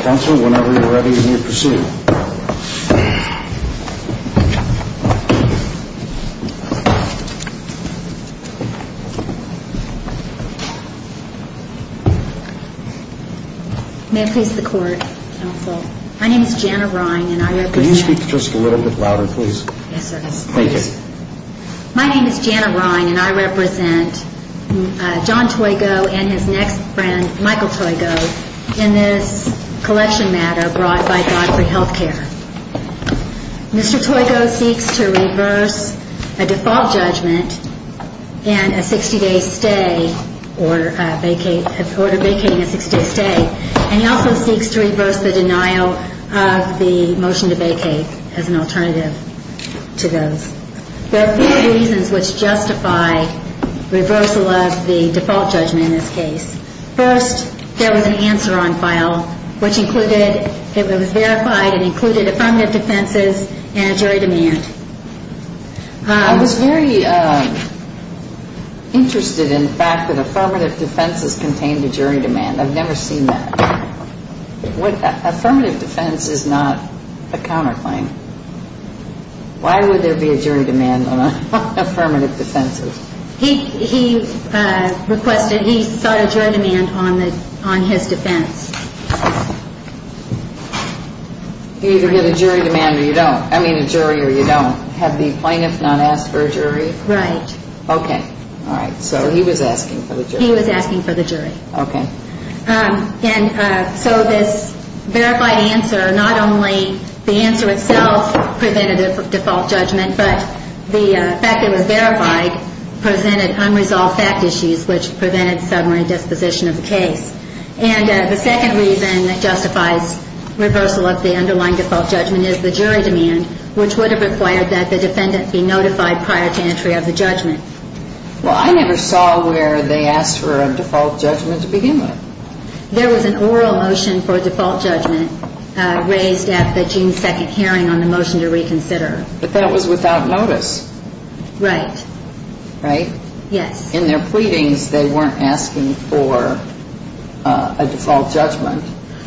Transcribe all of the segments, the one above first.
Council, whenever you are ready, you may proceed. May it please the Court, Counsel. My name is Janna Rine and I represent John Toigo and his next friend Michael Toigo in this collection matter brought by Godfrey Healthcare. Mr. Toigo seeks to reverse a default judgment in a 60-day stay or order vacating a 60-day stay and he also seeks to reverse the denial of the motion to vacate as an alternative to those. There are four reasons which justify reversal of the default judgment in this case. First, there was an answer on file which included, it was verified and included affirmative defenses and a jury demand. I was very interested in the fact that affirmative defenses contained a jury demand. I've never seen that. Affirmative defense is not a counterclaim. Why would there be a jury demand on affirmative defenses? He requested, he sought a jury demand on his defense. You either get a jury demand or you don't. I mean a jury or you don't. Had the plaintiff not asked for a jury? Right. Okay. All right. So he was asking for the jury. He was asking for the jury. Okay. And so this verified answer, not only the answer itself prevented a default judgment, but the fact that it was verified presented unresolved fact issues which prevented summary disposition of the case. And the second reason that justifies reversal of the underlying default judgment is the jury demand which would have required that the defendant be notified prior to entry of the judgment. Well, I never saw where they asked for a default judgment to begin with. There was an oral motion for a default judgment raised at the June 2nd hearing on the motion to reconsider. But that was without notice. Right. Right? Yes. In their pleadings they weren't asking for a default judgment.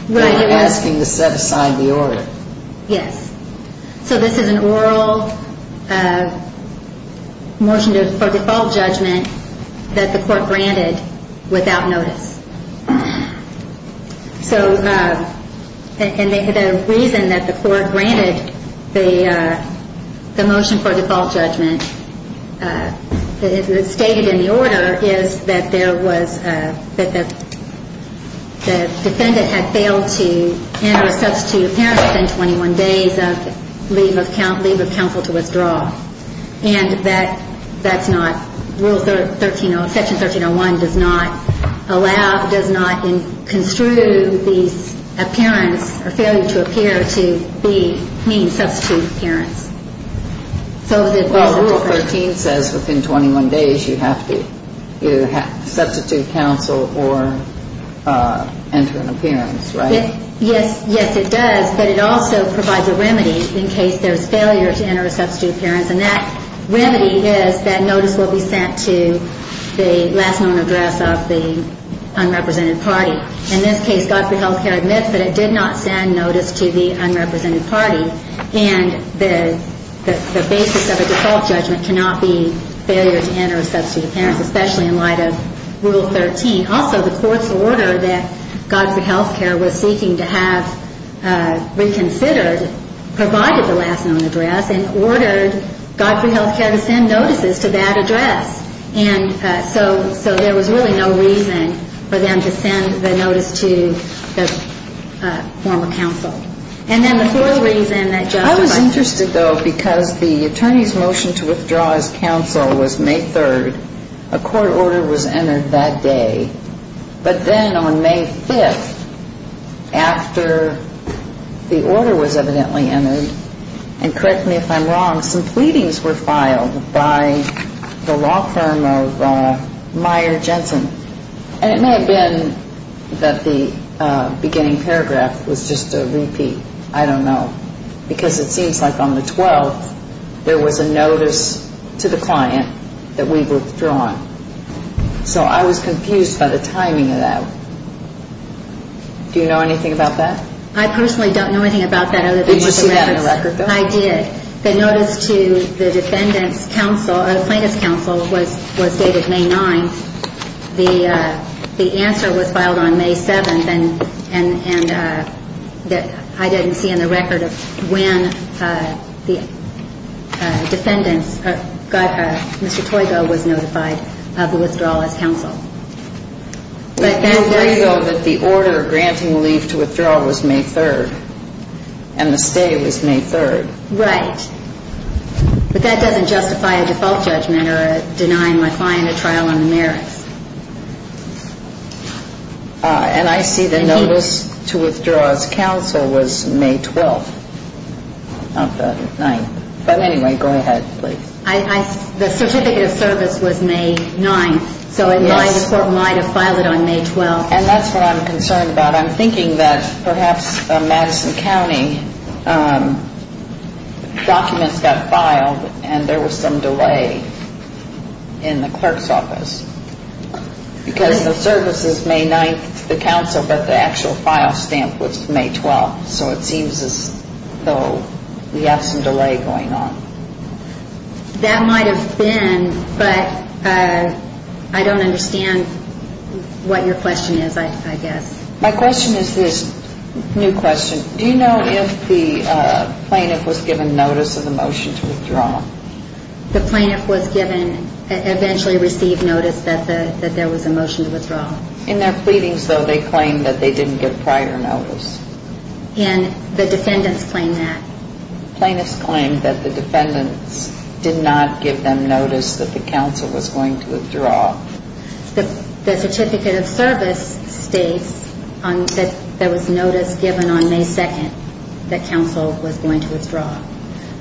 They were asking to set aside the order. Yes. So this is an oral motion for default judgment that the court granted without notice. So the reason that the court granted the motion for default judgment stated in the order is that there was a, that the defendant had failed to enter a substitute appearance within 21 days of leave of counsel to withdraw. And that's not Rule 13, Section 1301 does not allow, does not construe these appearance or failure to appear to be mean substitute appearance. So the rule 13 says within 21 days you have to either substitute counsel or enter an appearance, right? Yes. Yes, it does. But it also provides a remedy in case there's failure to enter a substitute appearance. And that remedy is that notice will be sent to the last known address of the unrepresented party. In this case, Godfrey Health Care admits that it did not send notice to the unrepresented party. And the basis of a default judgment cannot be failure to enter a substitute appearance, especially in light of Rule 13. Also, the court's order that Godfrey Health Care was seeking to have reconsidered provided the last known address and ordered Godfrey Health Care to send notices to that address. And so there was really no reason for them to have to send the notice to the former counsel. And then the fourth reason that Justice Breyer... I was interested, though, because the attorney's motion to withdraw his counsel was May 3rd. A court order was entered that day. But then on May 5th, after the order was evidently entered, and correct me if I'm wrong, some pleadings were filed by the law firm of Meyer Jensen. And it may have been that the beginning paragraph was just a repeat. I don't know. Because it seems like on the 12th, there was a notice to the client that we've withdrawn. So I was confused by the timing of that. Do you know anything about that? I personally don't know anything about that other than what the records... Did you see that in the record, though? I did. The notice to the defendant's counsel, or the plaintiff's counsel, was dated May 9th. The answer was filed on May 7th, and I didn't see in the record when the defendant's... Mr. Toygo was notified of the withdrawal as counsel. We agree, though, that the order granting leave to withdraw was May 3rd, and the stay was May 3rd. Right. But that doesn't justify a default judgment or denying my client a trial on the merits. And I see the notice to withdraw as counsel was May 12th, not the 9th. But anyway, go ahead, please. The certificate of service was May 9th, so my report might have filed it on May 12th. And that's what I'm concerned about. I'm thinking that perhaps Madison County documents got filed, and there was some delay in the clerk's office. Because the service is May 9th to the counsel, but the actual file stamp was May 12th. So it seems as though we have some delay going on. That might have been, but I don't understand what your question is, I guess. My question is this new question. Do you know if the plaintiff was given notice of the motion to withdraw? The plaintiff was given, eventually received notice that there was a motion to withdraw. In their pleadings, though, they claimed that they didn't get prior notice. And the defendants claim that. Plaintiffs claim that the defendants did not give them notice that the counsel was going to withdraw. The certificate of service states that there was notice given on May 2nd that counsel was going to withdraw.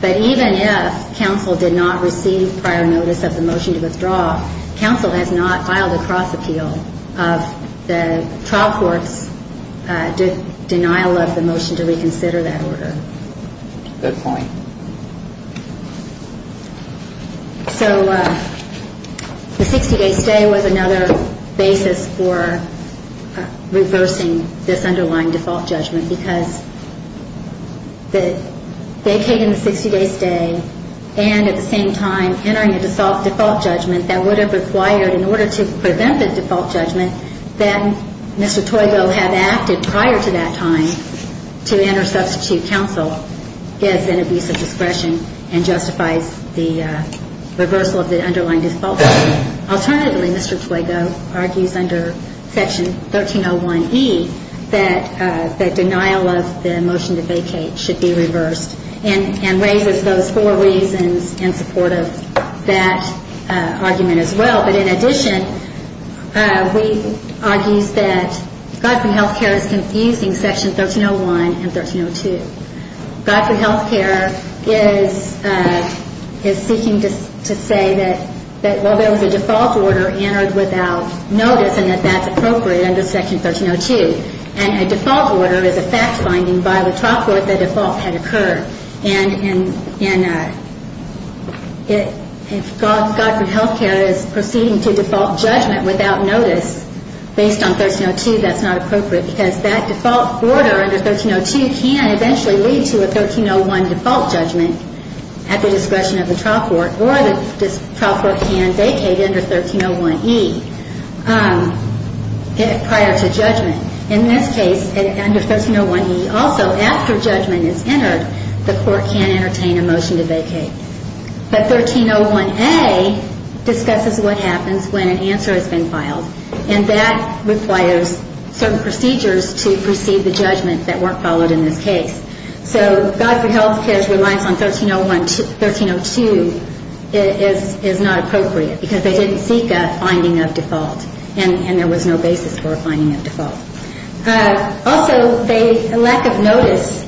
But even if counsel did not receive prior notice of the motion to withdraw, counsel has not filed a cross appeal of the trial court's denial of the motion to withdraw. So the 60-day stay was another basis for reversing this underlying default judgment. Because the vacating the 60-day stay and at the same time entering a default judgment that would have required in order to prevent the default judgment, then Mr. Toygo had acted prior to that time to enter substitute counsel is an abuse of discretion and justifies the reversal of the underlying default judgment. Alternatively, Mr. Toygo argues under Section 1301E that the denial of the motion to vacate should be reversed and raises those four reasons in support of that argument as well. But in addition, he argues that Godfrey Health Care is confusing Section 1301 and 1302. Godfrey Health Care is seeking to say that while there was a default order entered without notice and that that's appropriate under Section 1302, and a default order is a fact finding by the trial court that a default had occurred. And if Godfrey Health Care is proceeding to default judgment without notice based on 1302, that's not appropriate because that default order under 1302 can eventually lead to a 1301 default judgment at the discretion of the trial court or the trial court can vacate under 1301E prior to judgment. In this case, under 1301E, also after judgment is entered, the court can entertain a motion to vacate. But 1301A discusses what happens when an answer has been filed, and that requires certain procedures to precede the judgment that weren't followed in this case. So Godfrey Health Care's reliance on 1302 is not appropriate because they didn't seek a finding of default and there was no basis for a finding of default. Also, a lack of notice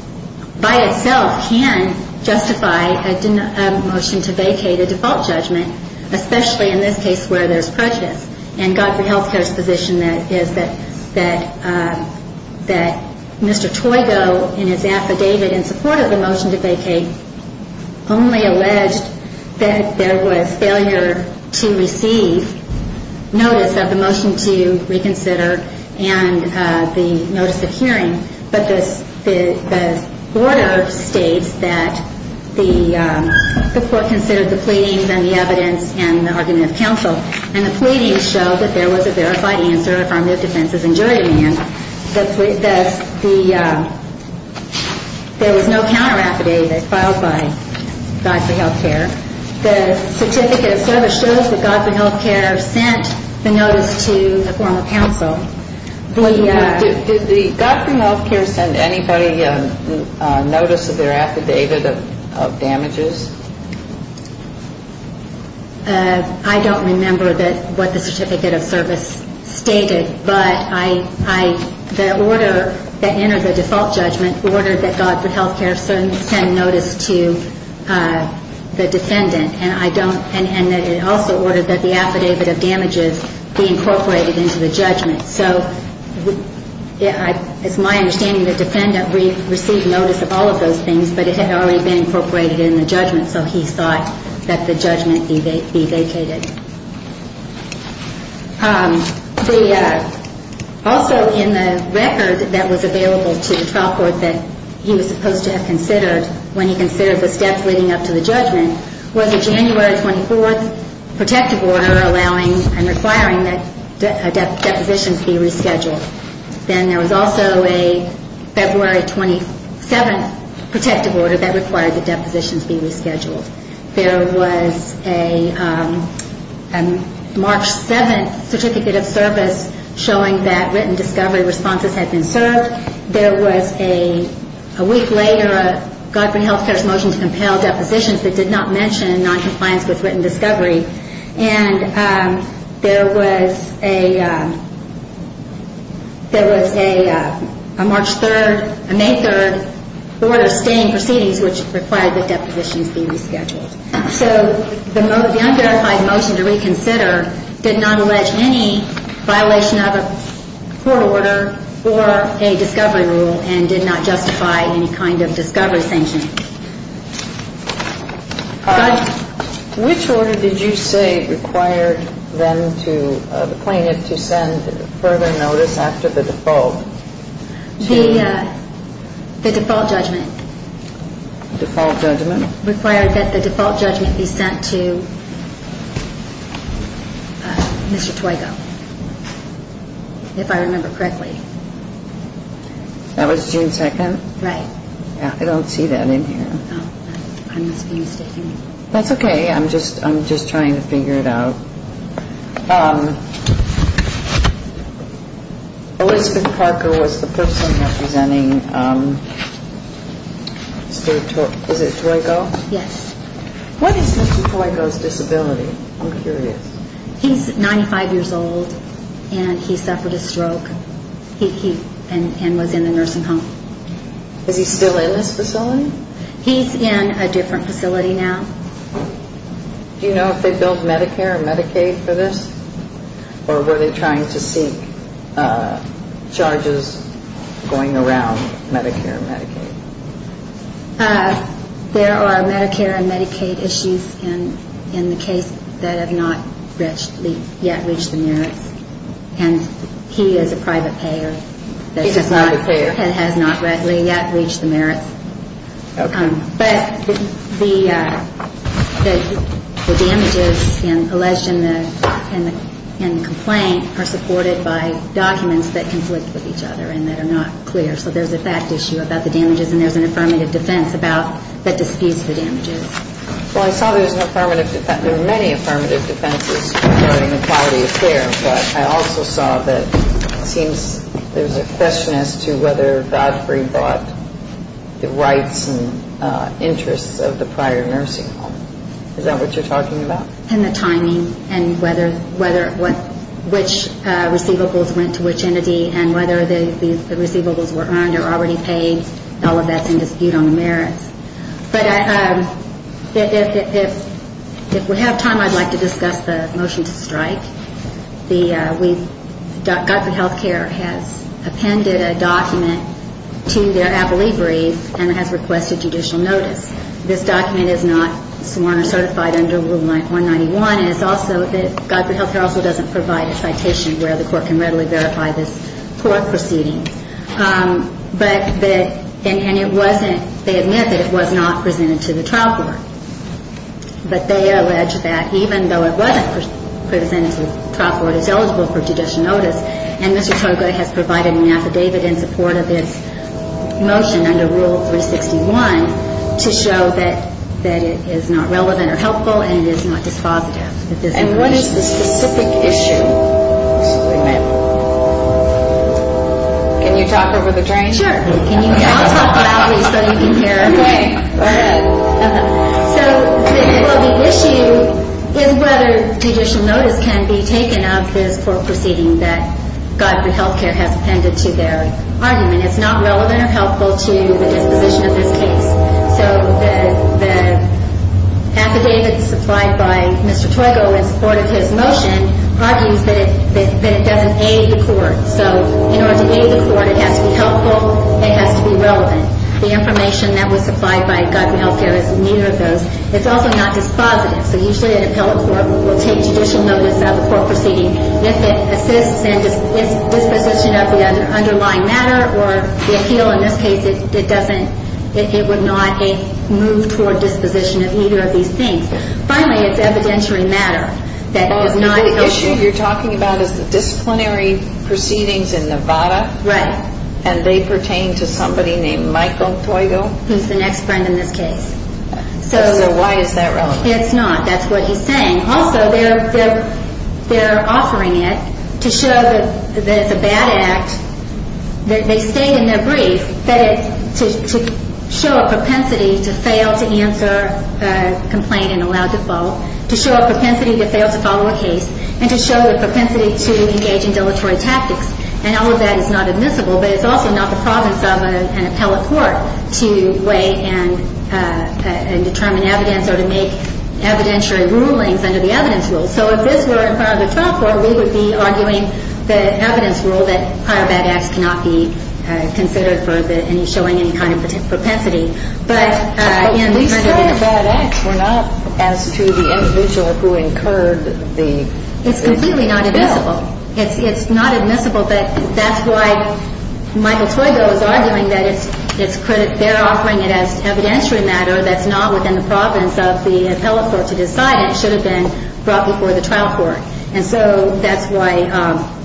by itself can justify a motion to vacate a default judgment, especially in this case where there's prejudice. And Godfrey Health Care's position is that Mr. Toygo, in his affidavit in support of the motion to vacate, only alleged that there was failure to receive notice of the motion to reconsider and the notice of hearing, but the order states that the court considered the pleadings and the evidence and the argument of counsel, and the pleadings show that there was a verified answer from the defenses and jury union. There was no counter affidavit filed by Godfrey Health Care. The certificate of service shows that Godfrey Health Care sent the notice to the former counsel. Did Godfrey Health Care send anybody a notice of their affidavit of damages? I don't remember what the certificate of service stated, but the order that entered the default judgment ordered that Godfrey Health Care sent notice to the defendant, and it also ordered that the affidavit of damages be incorporated into the judgment. So it's my understanding the defendant received notice of all of those things, but it had already been incorporated in the judgment, so he thought that the judgment be vacated. Also in the record that was available to the trial court that he was supposed to have considered when he considered the steps leading up to the judgment was a January 24th protective order allowing and requiring that a deposition be rescheduled. Then there was also a February 27th protective order that required the deposition to be rescheduled. There was a March 7th certificate of service showing that written discovery responses had been served. There was a week later a Godfrey Health Care's motion to compel depositions that did not mention noncompliance with written discovery, and there was a March 3rd and May 3rd order of staying proceedings which required that depositions be rescheduled. So the unverified motion to reconsider did not allege any violation of a court order or a discovery rule and did not justify any kind of discovery sanction. Which order did you say required the plaintiff to send further notice after the default? The default judgment required that the default judgment be sent to Mr. Twigo, if I remember correctly. That was June 2nd. I don't see that in here. That's okay, I'm just trying to figure it out. Elizabeth Parker was the person representing Mr. Twigo. What is Mr. Twigo's disability? He's 95 years old and he suffered a stroke and was in the nursing home. Is he still in this facility? He's in a different facility now. Do you know if they billed Medicare and Medicaid for this or were they trying to seek charges going around Medicare and Medicaid? There are Medicare and Medicaid issues in the case that have not yet reached the merits. And he is a private payer. He's a private payer. The damages alleged in the complaint are supported by documents that conflict with each other and that are not clear. So there's a fact issue about the damages and there's an affirmative defense that disputes the damages. Well, I saw there were many affirmative defenses regarding the quality of care, but I also saw that it seems there's a question as to whether Godfrey bought the rights and interests of the prior nursing home. Is that what you're talking about? And the timing and which receivables went to which entity and whether the receivables were earned or already paid. All of that's in dispute on the merits. But if we have time, I'd like to discuss the motion to strike. Godfrey Healthcare has appended a document to their appellee brief and has requested judicial notice. This document is not sworn or certified under Rule 191. And it's also that Godfrey Healthcare also doesn't provide a citation where the court can readily verify this court proceeding. And they admit that it was not presented to the trial court. But they allege that even though it wasn't presented to the trial court, it's eligible for judicial notice. And Mr. Togler has provided an affidavit in support of this motion under Rule 361 to show that it is not relevant or helpful and it is not dispositive. And what is the specific issue? Can you talk over the drain? So the issue is whether judicial notice can be taken of this court proceeding that Godfrey Healthcare has appended to their argument. It's not relevant or helpful to the disposition of this case. So the affidavit supplied by Mr. Togler in support of his motion argues that it doesn't aid the court. So in order to aid the court, it has to be helpful, it has to be relevant. The information that was supplied by Godfrey Healthcare is neither of those. It's also not dispositive. So usually an appellate court will take judicial notice of a court proceeding if it assists in disposition of the underlying matter or the appeal. In this case, it doesn't, it would not move toward disposition of either of these things. Finally, it's evidentiary matter that is not helpful. The issue you're talking about is the disciplinary proceedings in Nevada. And they pertain to somebody named Michael Toygo. He's the next friend in this case. So why is that relevant? It's not. That's what he's saying. Also, they're offering it to show that it's a bad act. They state in their brief that it's to show a propensity to fail to answer a complaint and allow default, to show a propensity to fail to follow a case, and to show a propensity to engage in dilatory tactics. And all of that is not admissible, but it's also not the province of an appellate court to weigh and determine evidence or to make evidentiary rulings under the evidence rule. So if this were part of the trial court, we would be arguing the evidence rule that prior bad acts cannot be considered for showing any kind of propensity. We said it's a bad act. We're not as to the individual who incurred the. It's completely not admissible. It's not admissible, but that's why Michael Twigo is arguing that it's credit. They're offering it as evidentiary matter that's not within the province of the appellate court to decide. It should have been brought before the trial court. And so that's why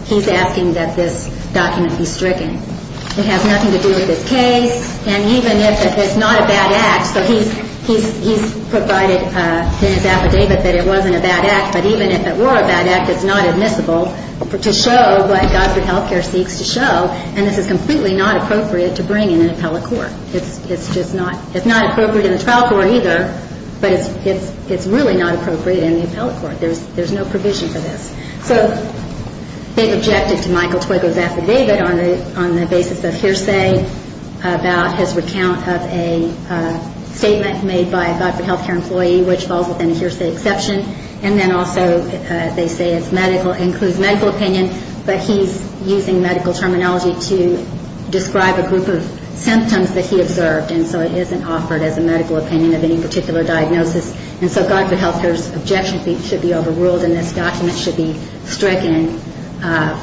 he's asking that this document be stricken. It has nothing to do with this case. And even if it is not a bad act, so he's provided in his affidavit that it wasn't a bad act, but even if it were a bad act, it's not admissible to show what Godfrey Healthcare seeks to show, and this is completely not appropriate to bring in an appellate court. It's just not. It's not appropriate in the trial court either, but it's really not appropriate in the appellate court. There's no provision for this. So they've objected to Michael Twigo's affidavit on the basis of hearsay about his recount of a statement made by a Godfrey Healthcare employee which falls within a hearsay exception, and then also they say it includes medical opinion, but he's using medical terminology to describe a group of symptoms that he observed, and so it isn't offered as a medical opinion of any particular diagnosis. And so Godfrey Healthcare's objection should be overruled, and this document should be stricken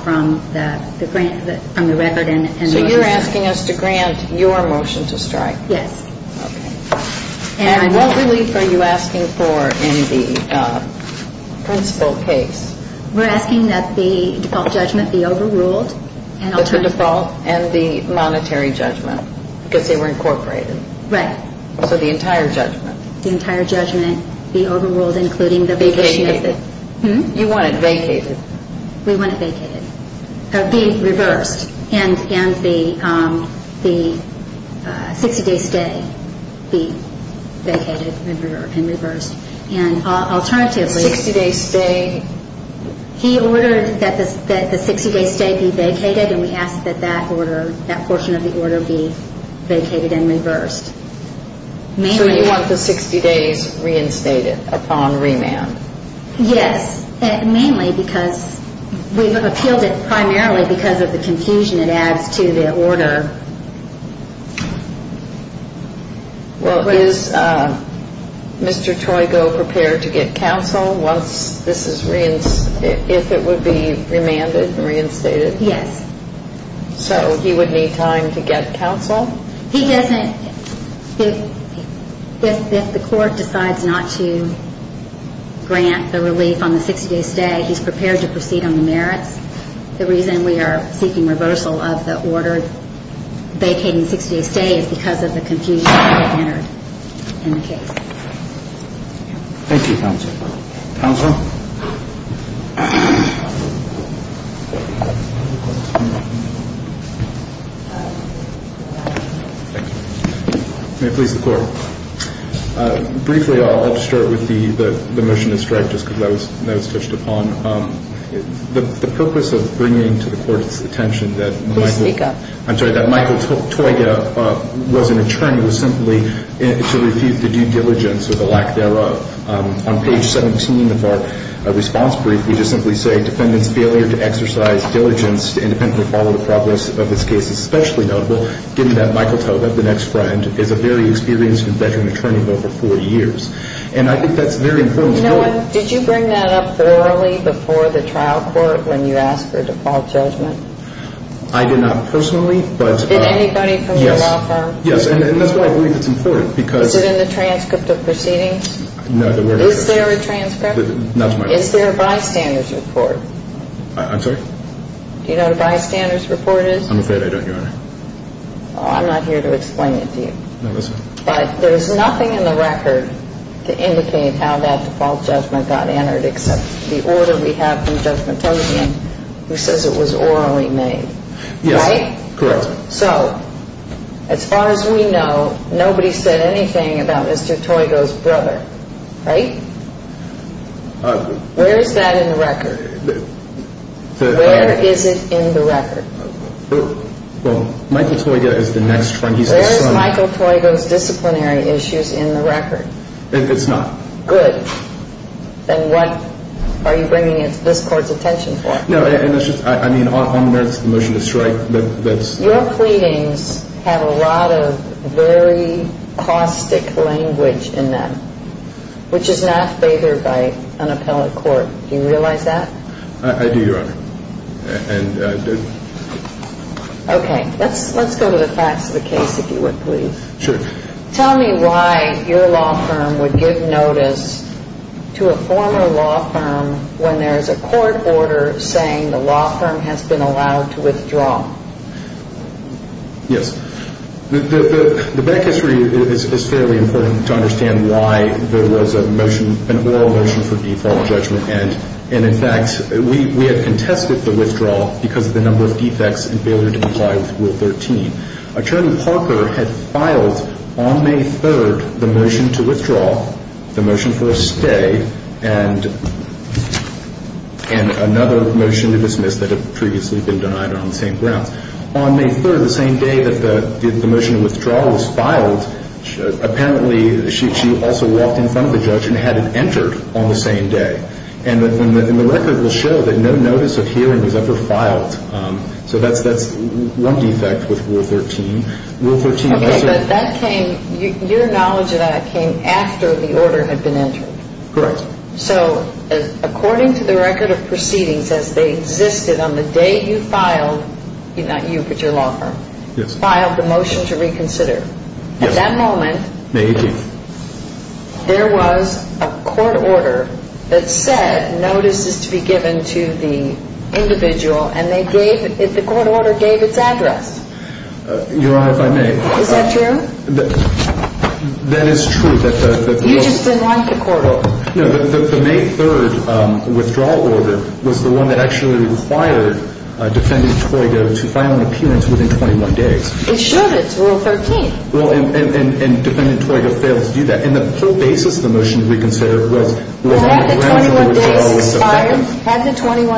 from the record. So you're asking us to grant your motion to strike? Yes. Okay. And what relief are you asking for in the principal case? We're asking that the default judgment be overruled. The default and the monetary judgment because they were incorporated. Right. So the entire judgment. The entire judgment be overruled including the vacation method. Vacated. You want it vacated. We want it vacated, be reversed, and the 60-day stay be vacated and reversed. And alternatively he ordered that the 60-day stay be vacated, and we ask that that order, that portion of the order be vacated and reversed. So you want the 60 days reinstated upon remand? Yes, mainly because we've appealed it primarily because of the confusion it adds to the order. Well, is Mr. Troigo prepared to get counsel once this is reinstated, if it would be remanded and reinstated? Yes. So he would need time to get counsel? He doesn't. If the court decides not to grant the relief on the 60-day stay, he's prepared to proceed on the merits. The reason we are seeking reversal of the order vacating 60-day stay is because of the confusion that entered in the case. Thank you, counsel. Counsel? May it please the Court. Briefly, I'll start with the motion to strike, just because that was touched upon. The purpose of bringing to the Court's attention that Michael Troigo was an attorney was simply to refute the due diligence or the lack thereof. On page 17 of our response brief, we just simply say, the defendant's failure to exercise diligence to independently follow the progress of this case is especially notable, given that Michael Troigo, the next friend, is a very experienced and veteran attorney of over 40 years. And I think that's a very important point. You know what? Did you bring that up orally before the trial court when you asked for a default judgment? I did not personally, but yes. Did anybody from your law firm? Yes, and that's why I believe it's important, because – Is it in the transcript of proceedings? No, there were no transcripts. Is there a transcript? Not to my knowledge. Is there a bystander's report? I'm sorry? Do you know what a bystander's report is? I'm afraid I don't, Your Honor. Well, I'm not here to explain it to you. No, that's fine. But there's nothing in the record to indicate how that default judgment got entered, except the order we have from Judge Matosian, who says it was orally made, right? Yes, correct. So, as far as we know, nobody said anything about Mr. Troigo's brother, right? Where is that in the record? Where is it in the record? Well, Michael Troigo is the next one. Where is Michael Troigo's disciplinary issues in the record? It's not. Good. Then what are you bringing this Court's attention for? No, and it's just – I mean, on the merits of the motion to strike, that's – Your pleadings have a lot of very caustic language in them, which is not favored by an appellate court. Do you realize that? I do, Your Honor. Okay. Let's go to the facts of the case, if you would, please. Sure. Tell me why your law firm would give notice to a former law firm when there is a court order saying the law firm has been allowed to withdraw? Yes. The back history is fairly important to understand why there was a motion, an oral motion for default judgment. And, in fact, we had contested the withdrawal because of the number of defects and failure to comply with Rule 13. Attorney Parker had filed on May 3rd the motion to withdraw, the motion for a stay, and another motion to dismiss that had previously been denied on the same grounds. On May 3rd, the same day that the motion to withdraw was filed, apparently she also walked in front of the judge and had it entered on the same day. And the record will show that no notice of hearing was ever filed. So that's one defect with Rule 13. Okay, but that came – your knowledge of that came after the order had been entered. Correct. So according to the record of proceedings as they existed on the day you filed – not you, but your law firm – filed the motion to reconsider. Yes. At that moment – May 18th. There was a court order that said notices to be given to the individual and they gave – the court order gave its address. You're right, if I may. Is that true? That is true. You just didn't like the court order. No, the May 3rd withdrawal order was the one that actually required Defendant Toygo to file an appearance within 21 days. It should. It's Rule 13. Well, and Defendant Toygo failed to do that. And the whole basis of the motion to reconsider was – Well, hadn't the 21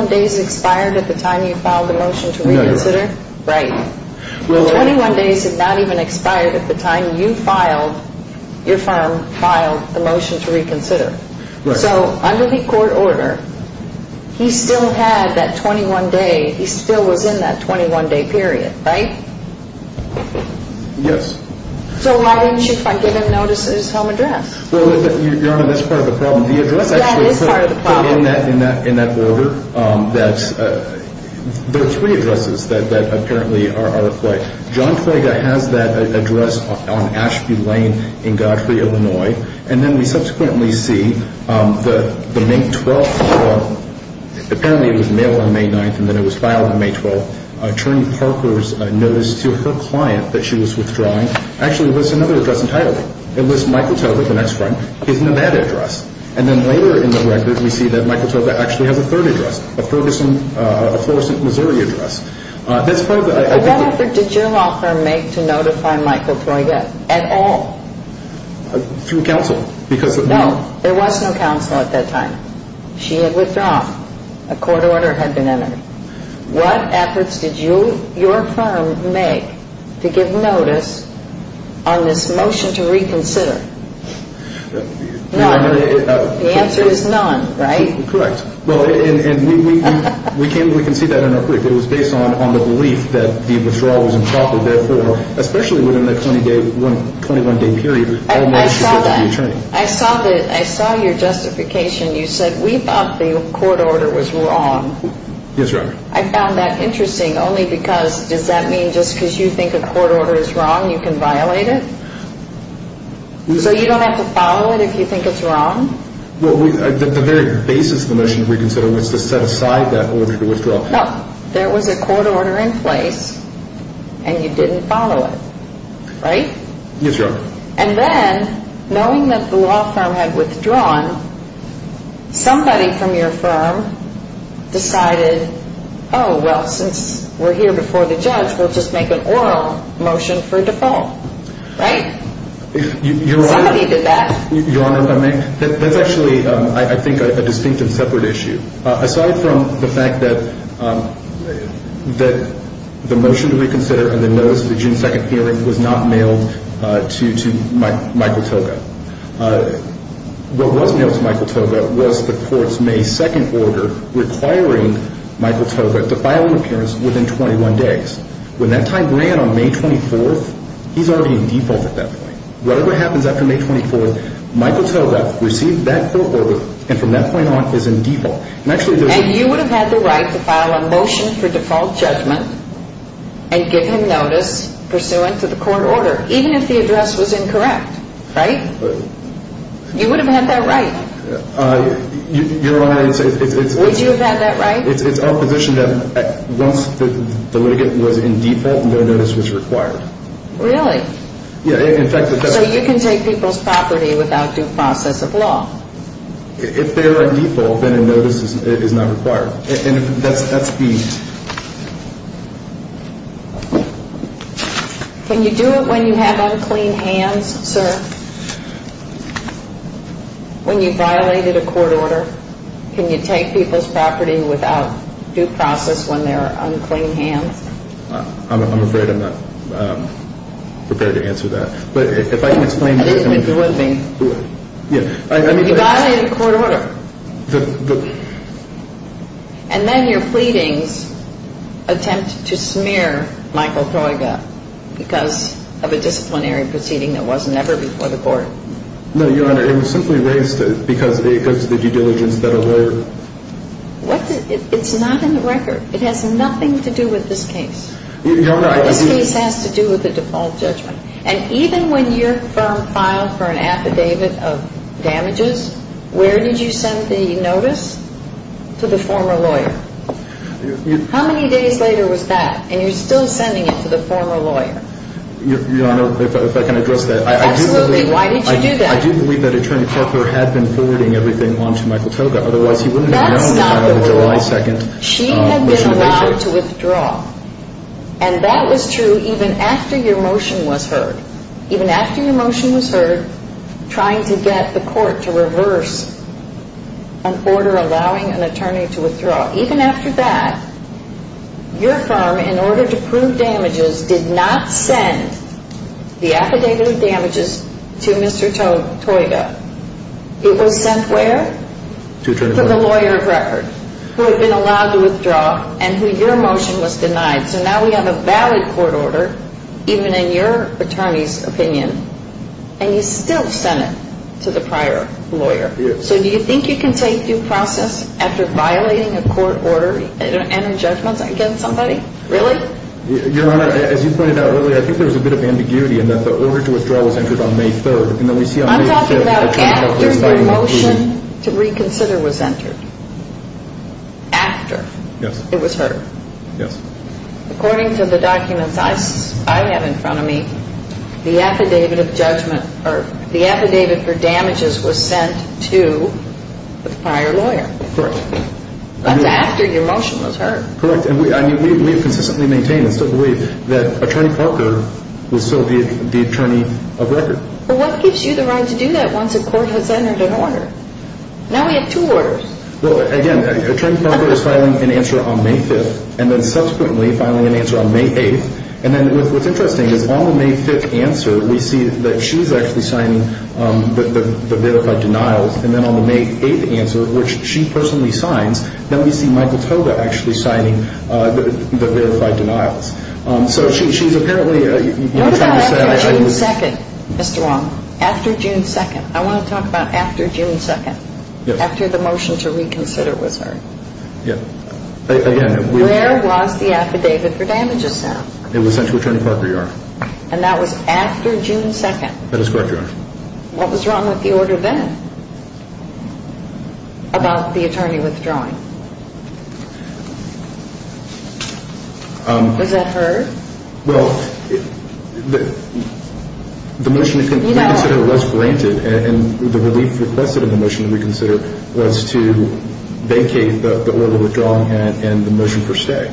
days expired at the time you filed the motion to reconsider? No, you're right. Right. The 21 days had not even expired at the time you filed – your firm filed the motion to reconsider. Right. So under the court order, he still had that 21 day – he still was in that 21 day period, right? Yes. So why didn't you give him notice at his home address? Well, Your Honor, that's part of the problem. The address actually came in that order. There are three addresses that apparently are – John Toygo has that address on Ashby Lane in Godfrey, Illinois. And then we subsequently see the May 12th withdrawal – apparently it was mailed on May 9th and then it was filed on May 12th. Attorney Parker's notice to her client that she was withdrawing actually lists another address entirely. It lists Michael Toygo, the next friend. He's in that address. And then later in the record we see that Michael Toygo actually has a third address, a Ferguson – a Florissant, Missouri address. That's part of the – What effort did your law firm make to notify Michael Toygo at all? Through counsel because – No, there was no counsel at that time. She had withdrawn. A court order had been entered. What efforts did your firm make to give notice on this motion to reconsider? No. The answer is none, right? Correct. Well, and we can see that in our critic. It was based on the belief that the withdrawal was improper. Therefore, especially within the 21-day period, I saw that. I saw your justification. You said, we thought the court order was wrong. Yes, Your Honor. I found that interesting only because – does that mean just because you think a court order is wrong you can violate it? So you don't have to follow it if you think it's wrong? Well, the very basis of the motion to reconsider was to set aside that order to withdraw. No. There was a court order in place, and you didn't follow it, right? Yes, Your Honor. And then, knowing that the law firm had withdrawn, somebody from your firm decided, oh, well, since we're here before the judge, we'll just make an oral motion for default, right? Somebody did that. Your Honor, that's actually, I think, a distinct and separate issue. Aside from the fact that the motion to reconsider and the notice of the June 2nd hearing was not mailed to Michael Toga, what was mailed to Michael Toga was the court's May 2nd order requiring Michael Toga to file an appearance within 21 days. When that time ran on May 24th, he's already in default at that point. Whatever happens after May 24th, Michael Toga received that court order and from that point on is in default. And you would have had the right to file a motion for default judgment and give him notice pursuant to the court order, even if the address was incorrect, right? You would have had that right. Your Honor, it's... Would you have had that right? It's our position that once the litigant was in default, no notice was required. Really? Yeah, in fact... So you can take people's property without due process of law? If they are in default, then a notice is not required. And that's the... Can you do it when you have unclean hands, sir? When you violated a court order, can you take people's property without due process when they are unclean hands? I'm afraid I'm not prepared to answer that. But if I can explain... I didn't think you would be. You violated a court order. And then your pleadings attempt to smear Michael Toga because of a disciplinary proceeding that wasn't ever before the court. No, Your Honor, it was simply raised because of the due diligence that a lawyer... It's not in the record. It has nothing to do with this case. Your Honor, I... This case has to do with the default judgment. And even when your firm filed for an affidavit of damages, where did you send the notice? To the former lawyer. How many days later was that? And you're still sending it to the former lawyer. Your Honor, if I can address that... Absolutely. Why did you do that? I do believe that Attorney Corker had been forwarding everything on to Michael Toga. Otherwise, he wouldn't have known about a July 2nd motion to make sure... That's not the point. She had been allowed to withdraw. And that was true even after your motion was heard. Even after your motion was heard, trying to get the court to reverse an order allowing an attorney to withdraw. Even after that, your firm, in order to prove damages, did not send the affidavit of damages to Mr. Toga. It was sent where? To Attorney Corker. To the lawyer of record, who had been allowed to withdraw, and who your motion was denied. So now we have a valid court order, even in your attorney's opinion, and you still sent it to the prior lawyer. Yes. So do you think you can say due process after violating a court order and a judgment against somebody? Really? Your Honor, as you pointed out earlier, I think there was a bit of ambiguity in that the order to withdraw was entered on May 3rd. I'm talking about after the motion to reconsider was entered. After it was heard. Yes. According to the documents I have in front of me, the affidavit for damages was sent to the prior lawyer. Correct. That's after your motion was heard. Correct. And we have consistently maintained and still believe that Attorney Corker was still the attorney of record. Well, what gives you the right to do that once a court has entered an order? Now we have two orders. Well, again, Attorney Corker is filing an answer on May 5th, and then subsequently filing an answer on May 8th. And then what's interesting is on the May 5th answer, we see that she's actually signing the verified denials, and then on the May 8th answer, which she personally signs, then we see Michael Toda actually signing the verified denials. So she's apparently trying to say that it was… What about after June 2nd, Mr. Wong? After June 2nd? I want to talk about after June 2nd. Yes. After the motion to reconsider was heard. Yes. Again, we… Where was the affidavit for damages sent? It was sent to Attorney Corker, Your Honor. And that was after June 2nd? That is correct, Your Honor. What was wrong with the order then about the attorney withdrawing? Was that heard? Well, the motion to reconsider was granted, and the relief requested in the motion to reconsider was to vacate the order withdrawing and the motion for stay.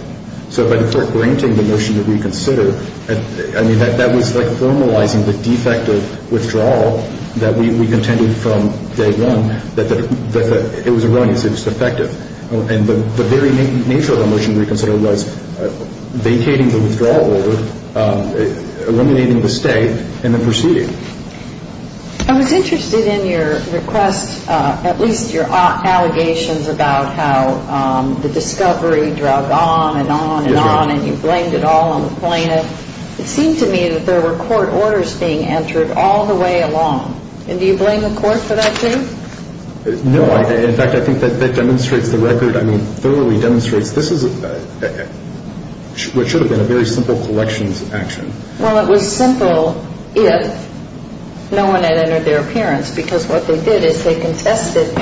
So by the court granting the motion to reconsider, I mean that was like formalizing the defective withdrawal that we contended from day one that it was erroneous, it was defective. And the very nature of the motion to reconsider was vacating the withdrawal order, eliminating the stay, and then proceeding. I was interested in your request, at least your allegations about how the discovery dragged on and on and on and you blamed it all on the plaintiff. It seemed to me that there were court orders being entered all the way along. And do you blame the court for that, too? No. In fact, I think that demonstrates the record. I mean, thoroughly demonstrates this is what should have been a very simple collections action. Well, it was simple if no one had entered their appearance because what they did is they contested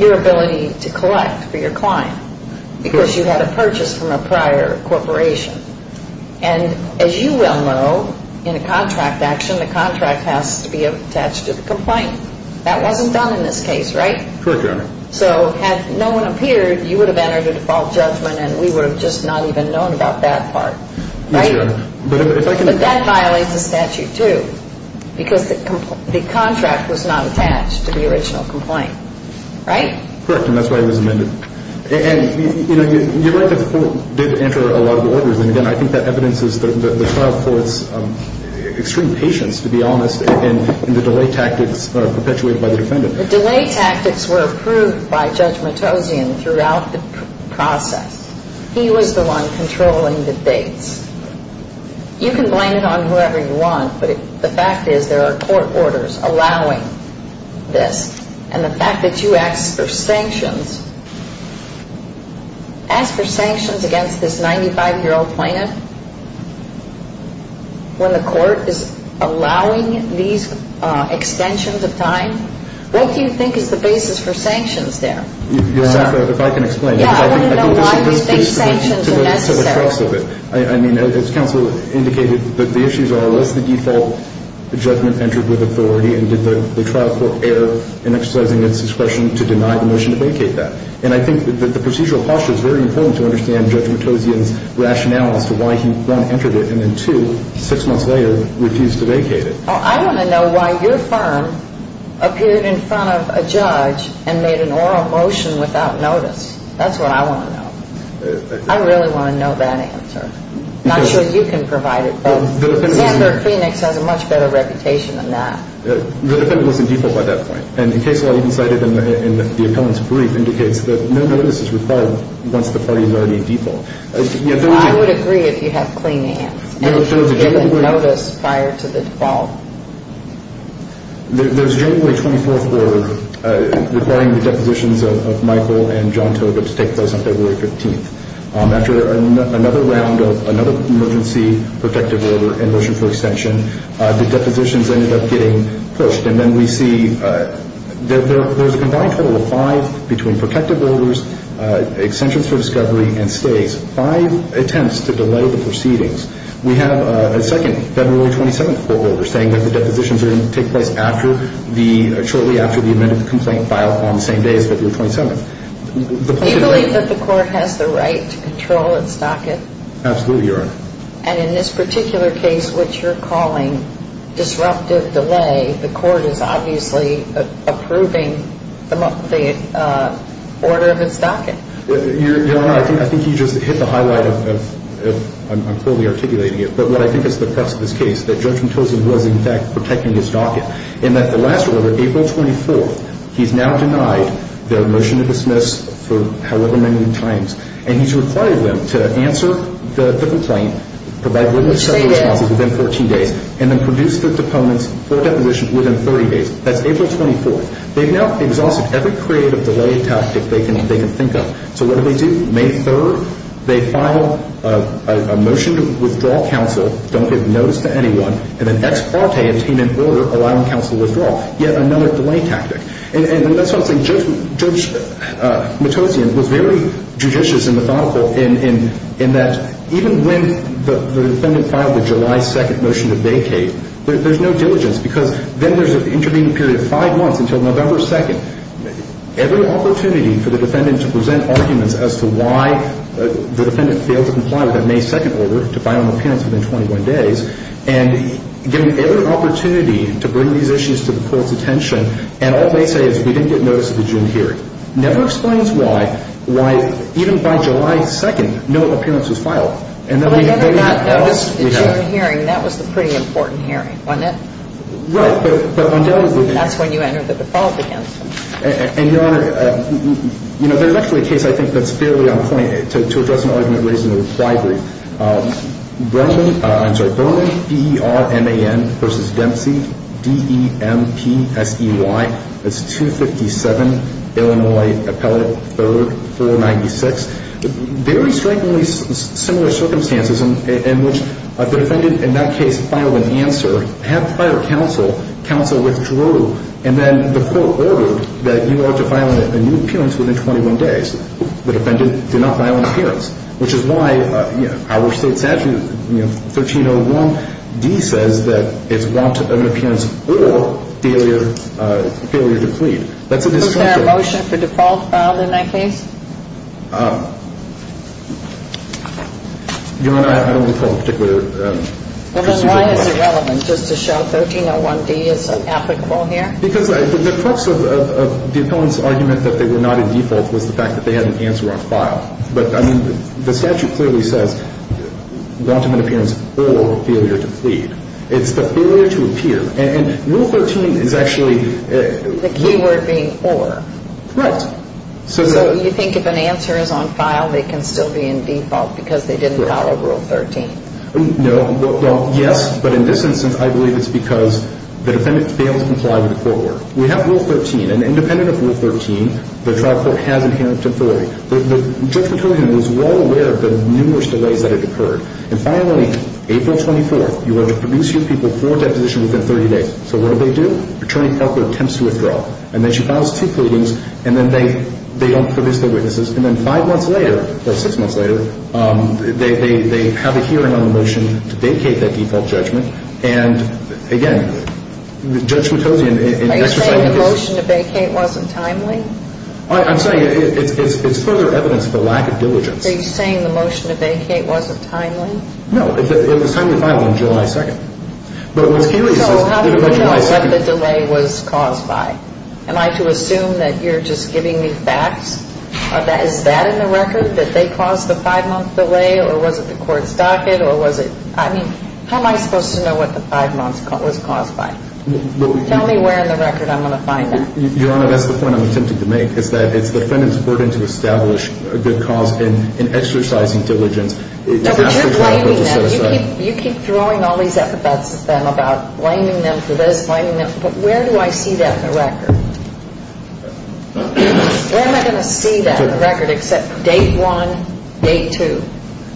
your ability to collect for your client because you had a purchase from a prior corporation. And as you well know, in a contract action, the contract has to be attached to the complaint. That wasn't done in this case, right? Correct, Your Honor. So had no one appeared, you would have entered a default judgment and we would have just not even known about that part, right? Yes, Your Honor. But that violates the statute, too, because the contract was not attached to the original complaint, right? Correct, and that's why it was amended. And you're right that the court did enter a lot of orders, and again, I think that evidences the trial court's extreme patience, to be honest, and the delay tactics perpetuated by the defendant. The delay tactics were approved by Judge Matossian throughout the process. He was the one controlling the dates. You can blame it on whoever you want, but the fact is there are court orders allowing this. And the fact that you asked for sanctions, asked for sanctions against this 95-year-old plaintiff when the court is allowing these extensions of time, what do you think is the basis for sanctions there? Your Honor, if I can explain. Yeah, I want to know why these big sanctions are necessary. I mean, as counsel indicated, the issues are was the default judgment entered with authority and did the trial court err in exercising its discretion to deny the motion to vacate that? And I think that the procedural posture is very important to understand Judge Matossian's rationale as to why he, one, entered it, and then, two, six months later, refused to vacate it. And, I think, in the case of the defendant, I think the defendant was in default and made an oral motion without notice. That's what I want to know. I really want to know that answer. I'm not sure you can provide it, but Xander Kleenix has a much better reputation than that. The defendant was in default by that point. And the case law you cited in the appellant's brief indicates that no notice is required once the party is already in default. I would agree if you have Kleenix. And if you get a notice prior to the default. There's generally a 24th order requiring the depositions of Michael and John Tobit to take place on February 15th. After another round of another emergency protective order and motion for extension, the depositions ended up getting pushed. And then we see there's a combined total of five between protective orders, extensions for discovery, and stays. Five attempts to delay the proceedings. We have a second February 27th court order saying that the depositions are going to take place shortly after the amended complaint file on the same day as February 27th. Do you believe that the court has the right to control its docket? Absolutely, Your Honor. And in this particular case, which you're calling disruptive delay, the court is obviously approving the order of its docket. Your Honor, I think you just hit the highlight of, I'm poorly articulating it, but what I think is the press of this case, that Judge Mentosin was, in fact, protecting his docket in that the last order, April 24th, he's now denied their motion to dismiss for however many times. And he's required them to answer the complaint, within 14 days, and then produce their deposition within 30 days. That's April 24th. They've now exhausted every creative delay tactic they can think of. So what do they do? May 3rd, they file a motion to withdraw counsel, don't give notice to anyone, and then ex parte obtain an order allowing counsel withdrawal. Yet another delay tactic. And that's why I was saying Judge Mentosin was very judicious and methodical in that even when the defendant filed the July 2nd motion to vacate, there's no diligence because then there's an intervening period of five months until November 2nd. Every opportunity for the defendant to present arguments as to why the defendant failed to comply with that May 2nd order, to file an appearance within 21 days, and given every opportunity to bring these issues to the court's attention, and all they say is, we didn't get notice of the June hearing. It never explains why, even by July 2nd, no appearance was filed. Well, they never got notice of the June hearing. That was the pretty important hearing, wasn't it? Right. That's when you entered the default against them. And, Your Honor, there's actually a case I think that's fairly on point to address an argument raised in the reply brief. I'm sorry, Berman, B-E-R-M-A-N versus Dempsey, D-E-M-P-S-E-Y. That's 257 Illinois Appellate 3rd, 496. Very strikingly similar circumstances in which the defendant, in that case, filed an answer, had prior counsel, counsel withdrew, and then the court ordered that you are to file a new appearance within 21 days. The defendant did not file an appearance, which is why our state statute, 1301D, says that it's want of an appearance or failure to plead. That's a distinction. Was there a motion for default filed in that case? Your Honor, I don't recall a particular decision. Well, then why is it relevant just to show 1301D is applicable here? Because the purpose of the appellant's argument that they were not in default was the fact that they had an answer on file. But, I mean, the statute clearly says want of an appearance or failure to plead. It's the failure to appear. And Rule 13 is actually the key word being or. Right. So you think if an answer is on file, they can still be in default because they didn't file Rule 13? No. Well, yes. But in this instance, I believe it's because the defendant fails to comply with the court order. We have Rule 13. And independent of Rule 13, the trial court has inherent authority. Judge Mutozian was well aware of the numerous delays that had occurred. And finally, April 24th, you are to produce your people for deposition within 30 days. So what do they do? Attorney Popper attempts to withdraw. And then she files two pleadings. And then they don't produce their witnesses. And then five months later, or six months later, they have a hearing on the motion to vacate that default judgment. And, again, Judge Mutozian. Are you saying the motion to vacate wasn't timely? I'm saying it's further evidence of a lack of diligence. Are you saying the motion to vacate wasn't timely? No. It was timely to file on July 2nd. So how do you know what the delay was caused by? Am I to assume that you're just giving me facts? Is that in the record, that they caused the five-month delay? Or was it the court's docket? I mean, how am I supposed to know what the five months was caused by? Tell me where in the record I'm going to find that. Your Honor, that's the point I'm attempting to make, is that it's the defendant's burden to establish a good cause in exercising diligence. But you're blaming them. You keep throwing all these alphabets at them about blaming them for this, blaming them for that. Where do I see that in the record? Where am I going to see that in the record except date one, date two?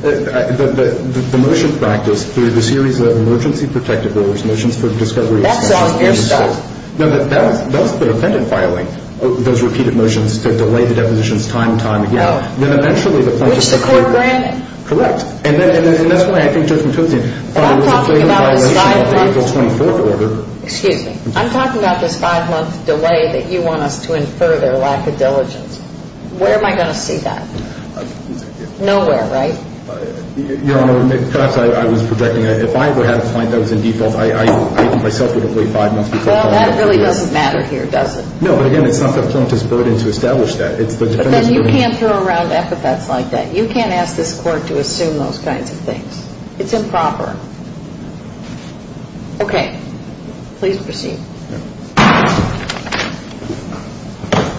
The motion practiced through the series of emergency protective orders motions for discovery. That's on your side. No, that's the defendant filing those repeated motions to delay the depositions time and time again. No. Which the court granted. Correct. And that's why I think Judge Matuzian filed a failing violation of the April 24th order. Excuse me. I'm talking about this five-month delay that you want us to infer their lack of diligence. Where am I going to see that? Nowhere, right? Your Honor, perhaps I was projecting that if I ever had a client that was in default, I myself would have delayed five months because of that. Well, that really doesn't matter here, does it? No, but again, it's not the plaintiff's burden to establish that. It's the defendant's burden. Then you can't throw around epithets like that. You can't ask this court to assume those kinds of things. It's improper. Okay. Please proceed.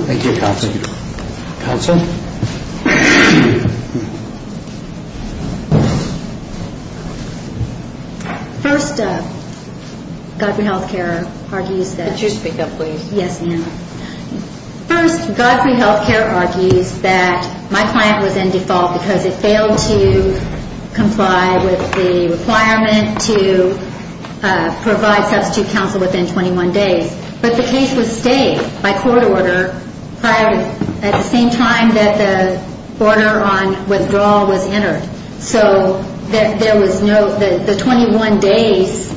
Thank you, counsel. First, Godfrey Health Care argues that my client was in default because it failed to comply with the requirement to provide substitute counsel within 21 days. But the case was stayed by court order at the same time that the order on withdrawal was entered. So the 21 days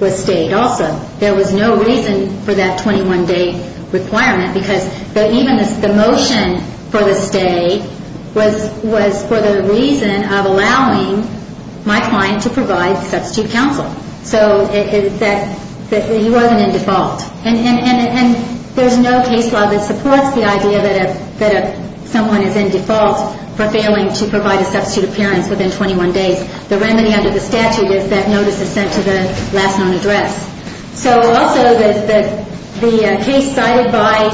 was stayed also. There was no reason for that 21-day requirement because even the motion for the stay was for the reason of allowing my client to provide substitute counsel. So he wasn't in default. And there's no case law that supports the idea that someone is in default for failing to provide a substitute appearance within 21 days. The remedy under the statute is that notice is sent to the last known address. So also the case cited by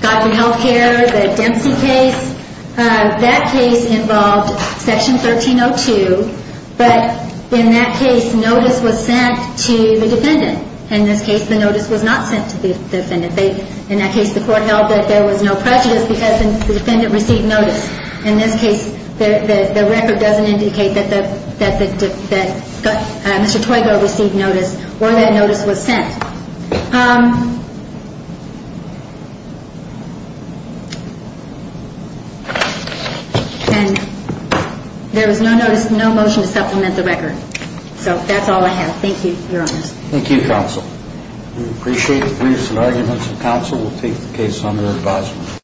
Godfrey Health Care, the Dempsey case, that case involved Section 1302, but in that case, notice was sent to the defendant. In this case, the notice was not sent to the defendant. In that case, the court held that there was no prejudice because the defendant received notice. In this case, the record doesn't indicate that Mr. Toygo received notice or that notice was sent. And there was no notice, no motion to supplement the record. So that's all I have. Thank you, Your Honor. Thank you, Counsel. We appreciate the briefs and arguments. Counsel will take the case under advisement.